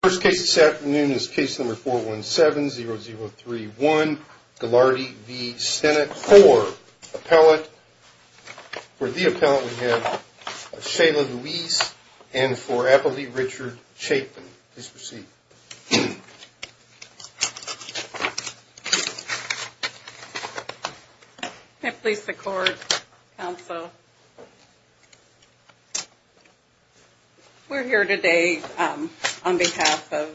The first case this afternoon is case number 417-0031, Galardy v. Stennett. For the appellant we have Shayla Louise and for appellate Richard Chapin. Please proceed. Please support counsel. We're here today on behalf of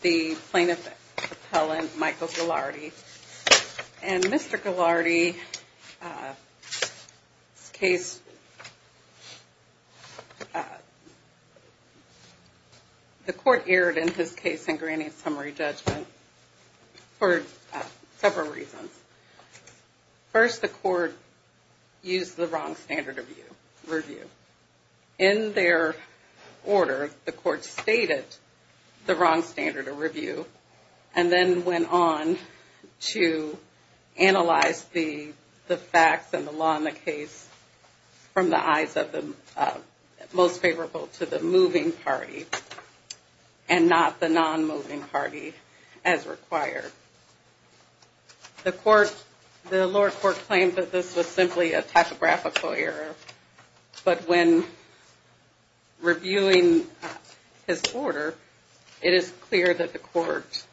the plaintiff appellant Michael Galardy. And Mr. Galardy's case, the court erred in his case in granting summary judgment. For several reasons. First, the court used the wrong standard of review. In their order, the court stated the wrong standard of review and then went on to analyze the facts and the law in the case from the eyes of the most favorable to the moving party and not the non-moving party. As required. The court, the lower court claimed that this was simply a typographical error. But when reviewing his order, it is clear that the court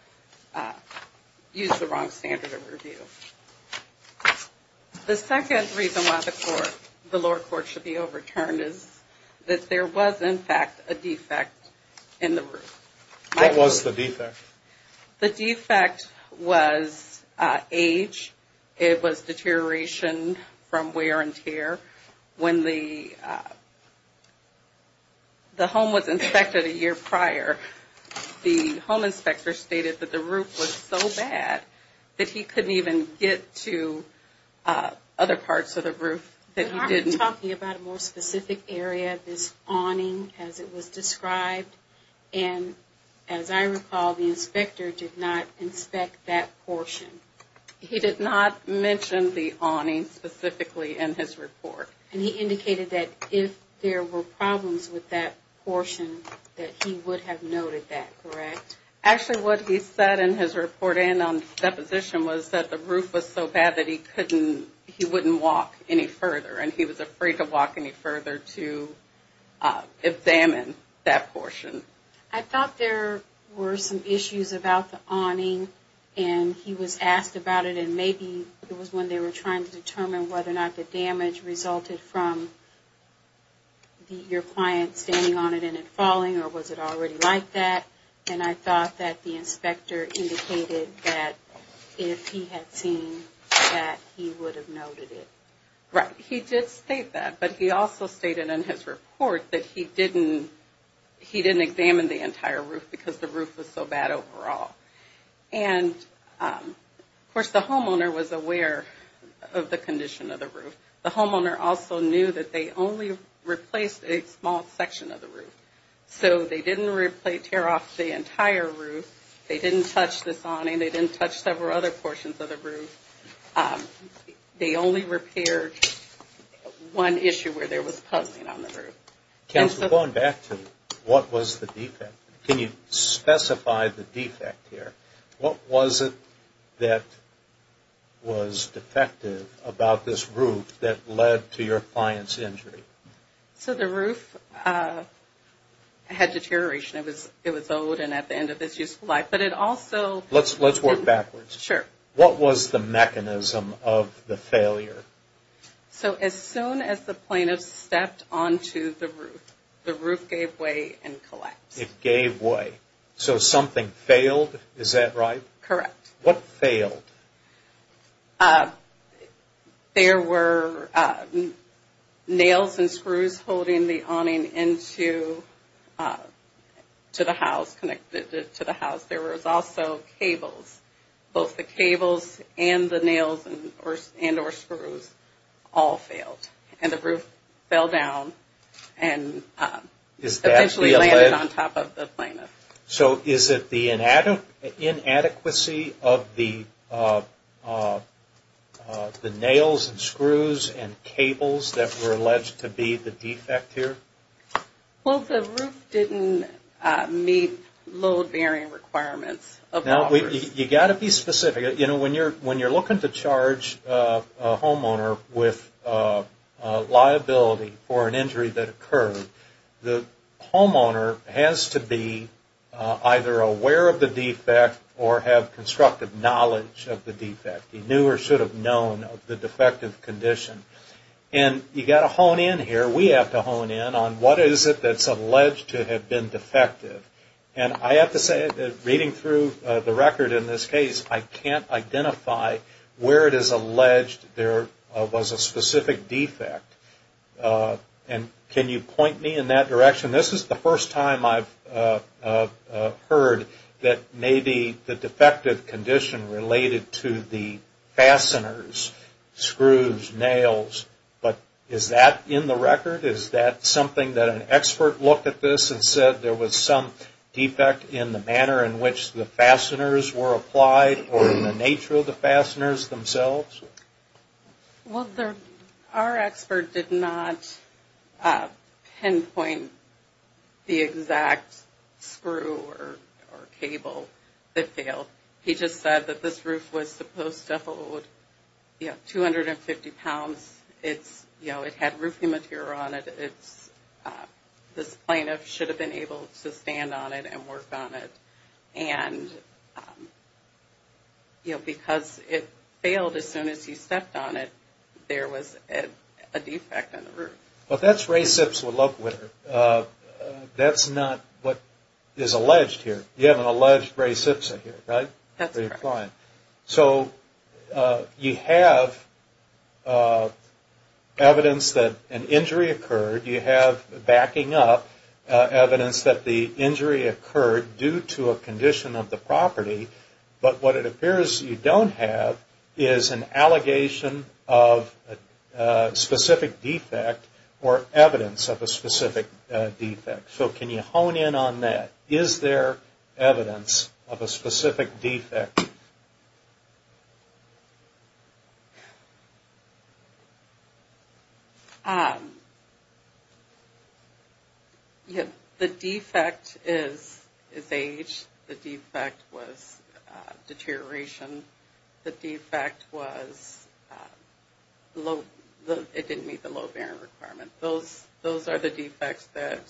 used the wrong standard of review. The second reason why the court, the lower court should be overturned is that there was in fact a defect in the roof. What was the defect? The defect was age. It was deterioration from wear and tear. When the home was inspected a year prior, the home inspector stated that the roof was so bad that he couldn't even get to other parts of the roof that he didn't He was talking about a more specific area, this awning as it was described. And as I recall, the inspector did not inspect that portion. He did not mention the awning specifically in his report. And he indicated that if there were problems with that portion, that he would have noted that, correct? Actually, what he said in his report and on deposition was that the roof was so bad that he couldn't, he wouldn't walk any further. And he was afraid to walk any further to examine that portion. I thought there were some issues about the awning and he was asked about it and maybe it was when they were trying to determine whether or not the damage resulted from your client standing on it and it falling or was it already like that? And I thought that the inspector indicated that if he had seen that, he would have noted it. Right. He did state that, but he also stated in his report that he didn't examine the entire roof because the roof was so bad overall. And of course, the homeowner was aware of the condition of the roof. The homeowner also knew that they only replaced a small section of the roof. So they didn't replace, tear off the entire roof. They didn't touch this awning. They didn't touch several other portions of the roof. They only repaired one issue where there was puzzling on the roof. Going back to what was the defect, can you specify the defect here? What was it that was defective about this roof that led to your client's injury? So the roof had deterioration. It was old and at the end of its useful life, but it also... Let's work backwards. Sure. What was the mechanism of the failure? So as soon as the plaintiff stepped onto the roof, the roof gave way and collapsed. It gave way. So something failed, is that right? Correct. What failed? There were nails and screws holding the awning into the house, connected to the house. There was also cables. Both the cables and the nails and or screws all failed. And the roof fell down and eventually landed on top of the plaintiff. So is it the inadequacy of the nails and screws and cables that were alleged to be the defect here? Well, the roof didn't meet load-bearing requirements. Now, you've got to be specific. You know, when you're looking to charge a homeowner with liability for an injury that occurred, the homeowner has to be either aware of the defect or have constructive knowledge of the defect. He knew or should have known of the defective condition. And you've got to hone in here. We have to hone in on what is it that's alleged to have been defective. And I have to say, reading through the record in this case, I can't identify where it is alleged there was a specific defect. And can you point me in that direction? This is the first time I've heard that maybe the defective condition related to the fasteners, screws, nails. But is that in the record? Is that something that an expert looked at this and said there was some defect in the manner in which the fasteners were applied or in the nature of the fasteners themselves? Well, our expert did not pinpoint the exact screw or cable that failed. He just said that this roof was supposed to hold, you know, 250 pounds. You know, it had roofing material on it. This plaintiff should have been able to stand on it and work on it. And, you know, because it failed as soon as he stepped on it, there was a defect in the roof. But that's Ray Sipsa's look with it. That's not what is alleged here. You have an alleged Ray Sipsa here, right? That's correct. So you have evidence that an injury occurred. You have backing up evidence that the injury occurred due to a condition of the property. But what it appears you don't have is an allegation of a specific defect or evidence of a specific defect. So can you hone in on that? Is there evidence of a specific defect? The defect is age. The defect was deterioration. The defect was it didn't meet the low bearing requirement. Those are the defects that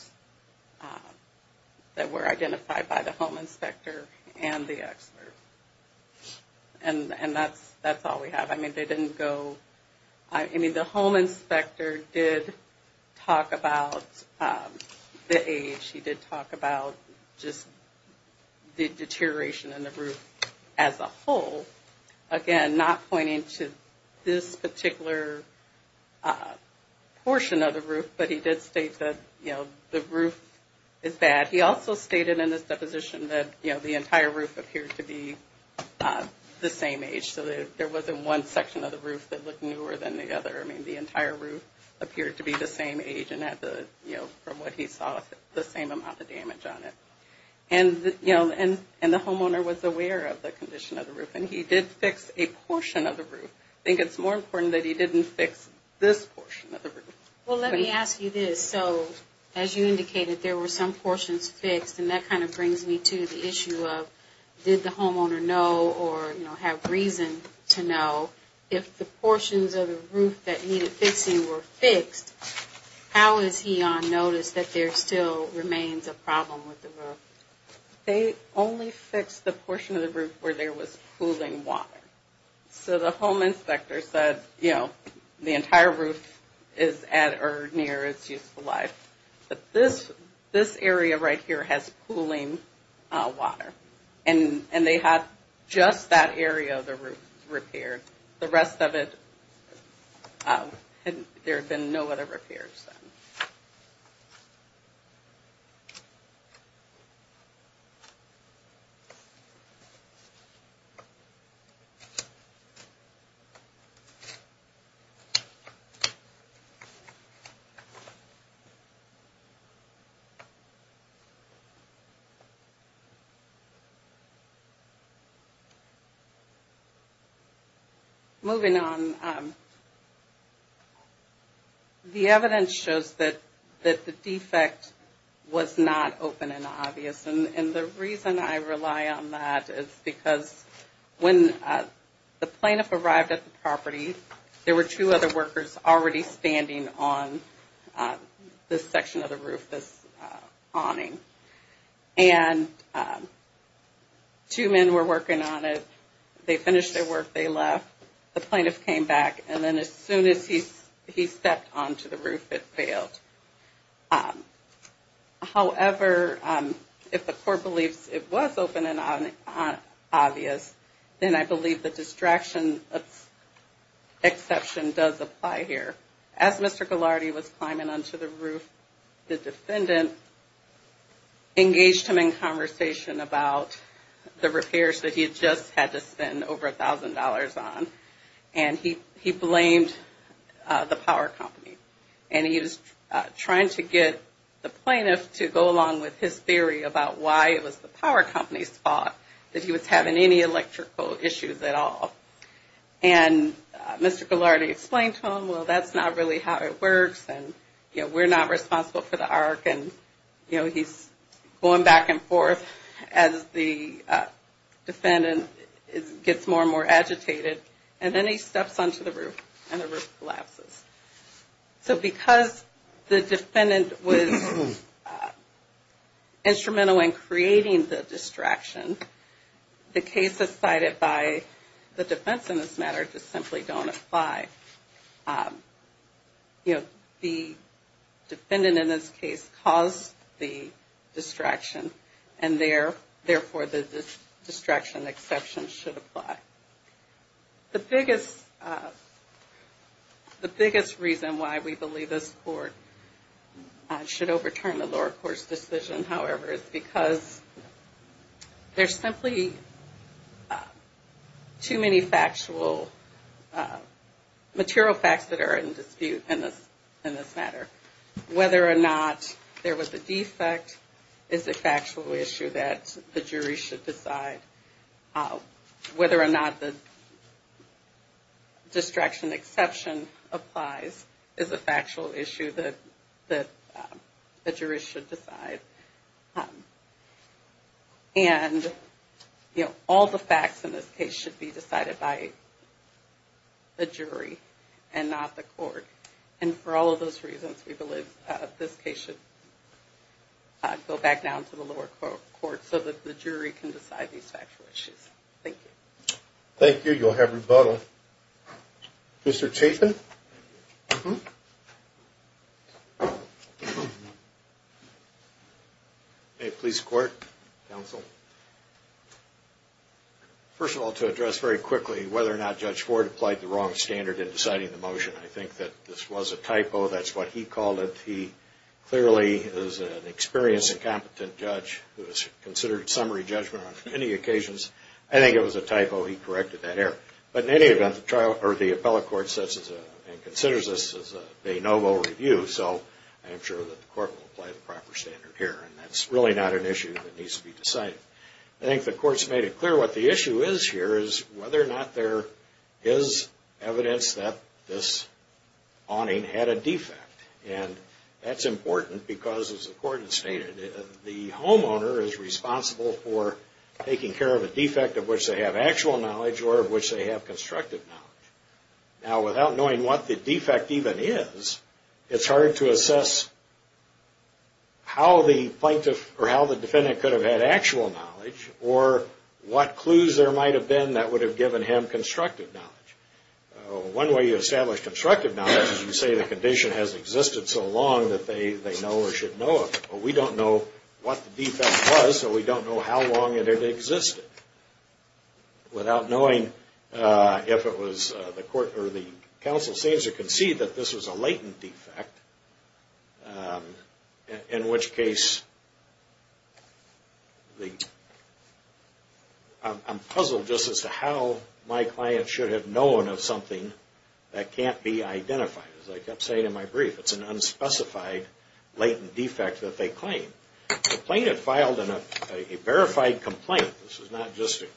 were identified by the home inspector and the expert. And that's all we have. I mean, they didn't go, I mean, the home inspector did talk about the age. He did talk about just the deterioration in the roof as a whole. But again, not pointing to this particular portion of the roof, but he did state that, you know, the roof is bad. He also stated in his deposition that, you know, the entire roof appeared to be the same age. So there wasn't one section of the roof that looked newer than the other. I mean, the entire roof appeared to be the same age and had the, you know, from what he saw, the same amount of damage on it. And, you know, and the homeowner was aware of the condition of the roof and he did fix a portion of the roof. I think it's more important that he didn't fix this portion of the roof. Well, let me ask you this. So as you indicated, there were some portions fixed and that kind of brings me to the issue of did the homeowner know or, you know, have reason to know if the portions of the roof that needed fixing were fixed, how is he on notice that there still remains a problem with the roof? They only fixed the portion of the roof where there was pooling water. So the home inspector said, you know, the entire roof is at or near its useful life. But this area right here has pooling water. And they had just that area of the roof repaired. The rest of it, there have been no other repairs done. Moving on, the evidence shows that the defect was not open and obvious. And the reason I rely on that is because when the plaintiff arrived at the property, there were two other workers already standing on this section of the roof, this awning. And two men were working on it. They finished their work. They left. The plaintiff came back. And then as soon as he stepped onto the roof, it failed. However, if the court believes it was open and obvious, then I believe the distraction exception does apply here. As Mr. Ghilardi was climbing onto the roof, the defendant engaged him in conversation about the repairs that he had just had to spend over $1,000 on. And he blamed the power company. And he was trying to get the plaintiff to go along with his theory about why it was the power company's fault that he was having any electrical issues at all. And Mr. Ghilardi explained to him, well, that's not really how it works. And we're not responsible for the arc. And he's going back and forth as the defendant gets more and more agitated. And then he steps onto the roof and the roof collapses. So because the defendant was instrumental in creating the distraction, the cases cited by the defense in this matter just simply don't apply. You know, the defendant in this case caused the distraction. And therefore, the distraction exception should apply. The biggest reason why we believe this court should overturn the lower court's decision, however, is because there's simply too many factual material facts that are in dispute in this matter. Whether or not there was a defect is a factual issue that the jury should decide. Whether or not the distraction exception applies is a factual issue that the jury should decide. And all the facts in this case should be decided by the jury and not the court. And for all of those reasons, we believe this case should go back down to the lower court so that the jury can decide these factual issues. Thank you. Thank you. You'll have rebuttal. Mr. Chapin? First of all, to address very quickly whether or not Judge Ford applied the wrong standard in deciding the motion. I think that this was a typo. That's what he called it. He clearly is an experienced and competent judge who has considered summary judgment on many occasions. I think it was a typo. He corrected that error. But in any event, the appellate court considers this as a de novo review, so I'm sure that the court will apply the proper standard here. And that's really not an issue that needs to be decided. I think the court's made it clear what the issue is here is whether or not there is evidence that this awning had a defect. And that's important because, as the court has stated, the homeowner is responsible for taking care of a defect of which they have actual knowledge or of which they have constructive knowledge. Now, without knowing what the defect even is, it's hard to assess how the defendant could have had actual knowledge or what clues there might have been that would have given him constructive knowledge. One way you establish constructive knowledge is you say the condition has existed so long that they know or should know of it. But we don't know what the defect was, so we don't know how long it existed. Without knowing if it was the court or the counsel seems to concede that this was a latent defect, in which case I'm puzzled just as to how my client should have known of something that can't be identified. As I kept saying in my brief, it's an unspecified latent defect that they claim. The plaintiff filed a verified complaint. This is not just an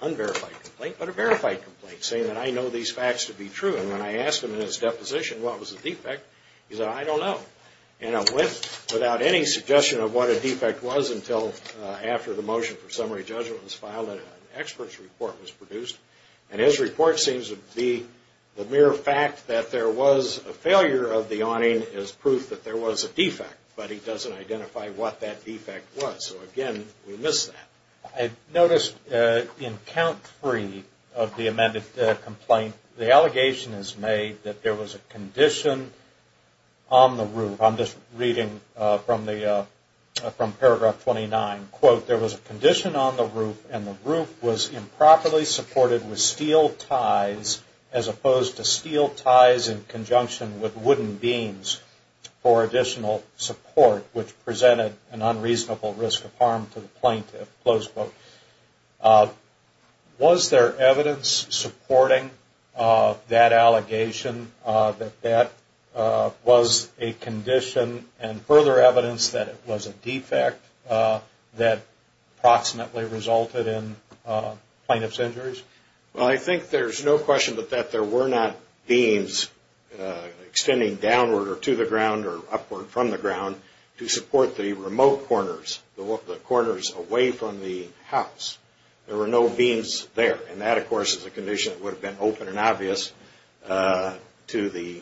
unverified complaint, but a verified complaint saying that I know these facts to be true. And when I asked him in his deposition what was the defect, he said, I don't know. And I went without any suggestion of what a defect was until after the motion for summary judgment was filed and an expert's report was produced. And his report seems to be the mere fact that there was a failure of the awning is proof that there was a defect. But he doesn't identify what that defect was. So again, we miss that. I noticed in count three of the amended complaint, the allegation is made that there was a condition on the roof. I'm just reading from paragraph 29. There was a condition on the roof and the roof was improperly supported with steel ties as opposed to steel ties in conjunction with wooden beams for additional support, which presented an unreasonable risk of harm to the plaintiff. Was there evidence supporting that allegation that that was a condition and further evidence that it was a defect that approximately resulted in plaintiff's injuries? Well, I think there's no question but that there were not beams extending downward or to the ground or upward from the ground to support the remote corners, the corners away from the house. There were no beams there. And that, of course, is a condition that would have been open and obvious to the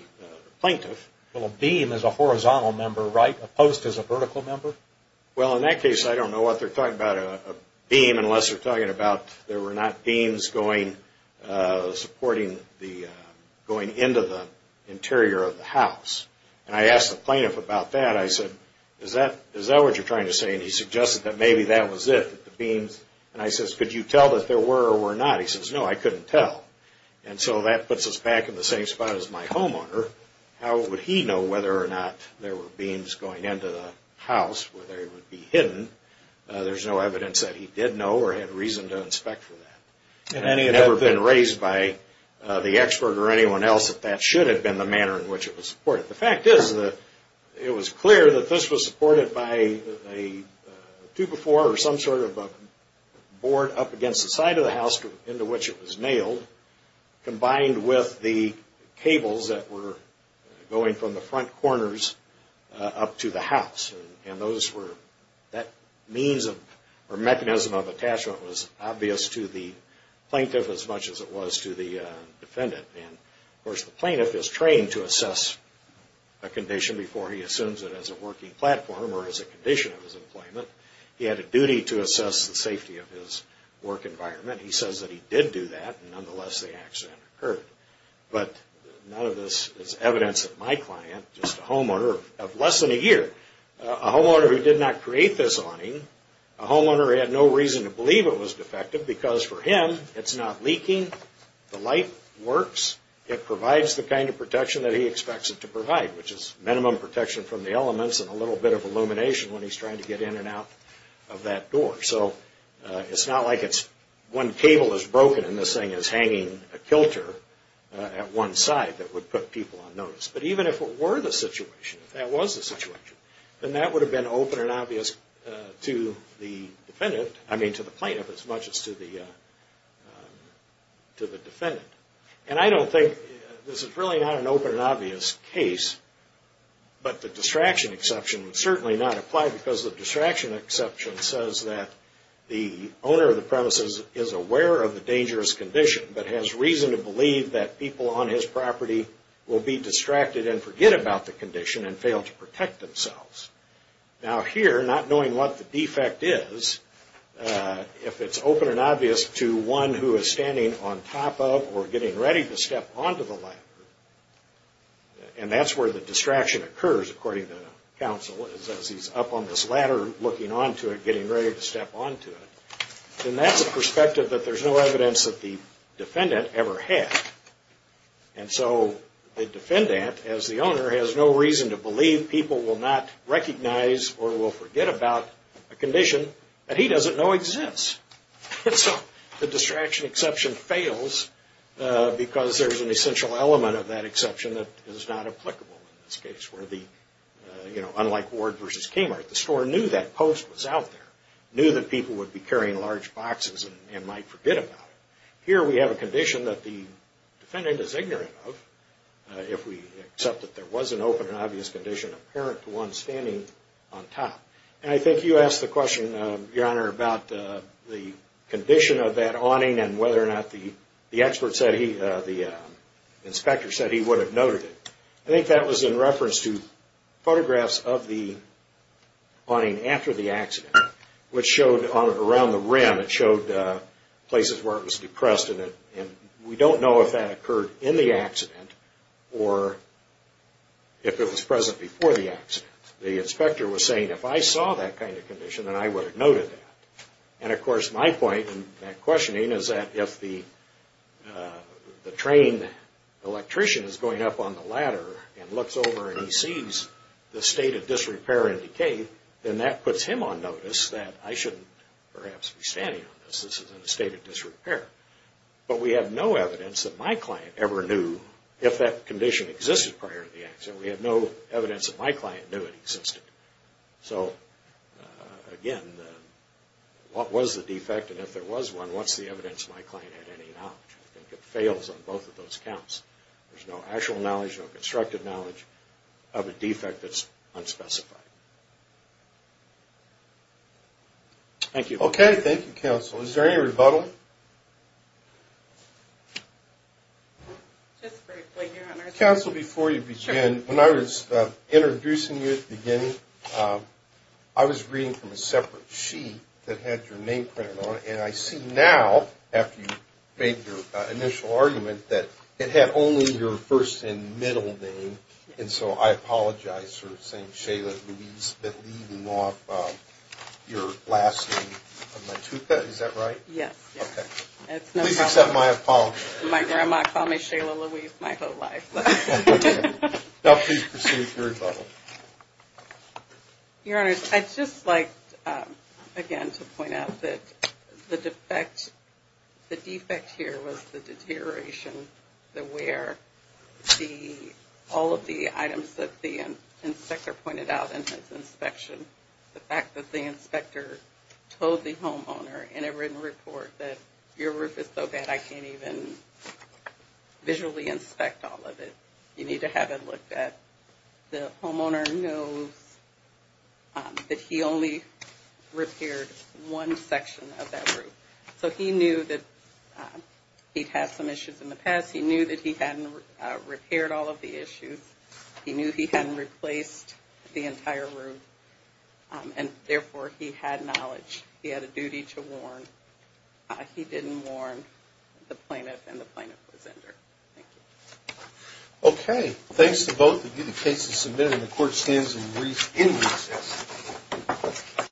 plaintiff. Well, a beam is a horizontal member, right, opposed to a vertical member? Well, in that case, I don't know what they're talking about, a beam, unless they're talking about there were not beams going into the interior of the house. And I asked the plaintiff about that. I said, is that what you're trying to say? And he suggested that maybe that was it, the beams. And I says, could you tell that there were or were not? And he says, no, I couldn't tell. And so that puts us back in the same spot as my homeowner. How would he know whether or not there were beams going into the house, whether it would be hidden? There's no evidence that he did know or had reason to inspect for that. And it had never been raised by the expert or anyone else that that should have been the manner in which it was supported. The fact is that it was clear that this was supported by a two-by-four or some sort of a board up against the side of the house into which it was nailed, combined with the cables that were going from the front corners up to the house. And those were, that means or mechanism of attachment was obvious to the plaintiff as much as it was to the defendant. And of course the plaintiff is trained to assess a condition before he assumes it as a working platform or as a condition of his employment. He had a duty to assess the safety of his work environment. He says that he did do that and nonetheless the accident occurred. But none of this is evidence that my client, just a homeowner of less than a year, a homeowner who did not create this awning, a homeowner who had no reason to believe it was defective because for him it's not leaking, the light works, it provides the kind of protection that he expects it to provide, which is minimum protection from the elements and a little bit of illumination when he's trying to get in and out of that door. So it's not like it's one cable is broken and this thing is hanging a kilter at one side that would put people on notice. But even if it were the situation, if that was the situation, then that would have been open and obvious to the defendant, I mean to the plaintiff as much as to the defendant. And I don't think, this is really not an open and obvious case, but the distraction exception would certainly not apply because the distraction exception says that the owner of the premises is aware of the dangerous condition but has reason to believe that people on his property will be distracted and forget about the condition and fail to protect themselves. Now here, not knowing what the defect is, if it's open and obvious to one who is standing on top of or getting ready to step onto the ladder, and that's where the distraction occurs, according to counsel, is as he's up on this ladder looking onto it, getting ready to step onto it, then that's a perspective that there's no evidence that the defendant ever had. And so the defendant, as the owner, has no reason to believe people will not recognize or will forget about a condition that he doesn't know exists. So the distraction exception fails because there's an essential element of that exception that is not applicable in this case. Unlike Ward v. Kmart, the store knew that post was out there, knew that people would be carrying large boxes and might forget about it. Here we have a condition that the defendant is ignorant of if we accept that there was an open and obvious condition apparent to one standing on top. And I think you asked the question, Your Honor, about the condition of that awning and whether or not the inspector said he would have noted it. I think that was in reference to photographs of the awning after the accident, which showed around the rim, it showed places where it was depressed and we don't know if that occurred in the accident or if it was present before the accident. The inspector was saying, if I saw that kind of condition, then I would have noted that. And of course, my point in that questioning is that if the train electrician is going up on the ladder and looks over and he sees the state of disrepair and decay, then that puts him on notice that I shouldn't perhaps be standing on this, this is in a state of disrepair. But we have no evidence that my client ever knew if that condition existed prior to the accident. We have no evidence that my client knew it existed. So again, what was the defect and if there was one, what's the evidence my client had any knowledge? I think it fails on both of those counts. There's no actual knowledge, no constructive knowledge of a defect that's unspecified. Thank you. Okay. Thank you, Counsel. Is there any rebuttal? Just briefly, Your Honor. Is that right? Yes. Okay. Please accept my apology. My grandma called me Shayla Louise my whole life. Now please proceed to rebuttal. Your Honor, I'd just like again to point out that the defect here was the deterioration, the wear, all of the items that the inspector pointed out in his inspection. The fact that the inspector told the homeowner in a written report that your roof is so bad I can't even visually inspect all of it. You need to have it looked at. The homeowner knows that he only repaired one section of that roof. So he knew that he'd had some issues in the past. He knew that he hadn't repaired all of the issues. He knew he hadn't replaced the entire roof and therefore he had knowledge. He had a duty to warn. He didn't warn the plaintiff and the plaintiff was injured. Thank you. Okay. Thanks to both of you. The case is submitted and the court stands in recess.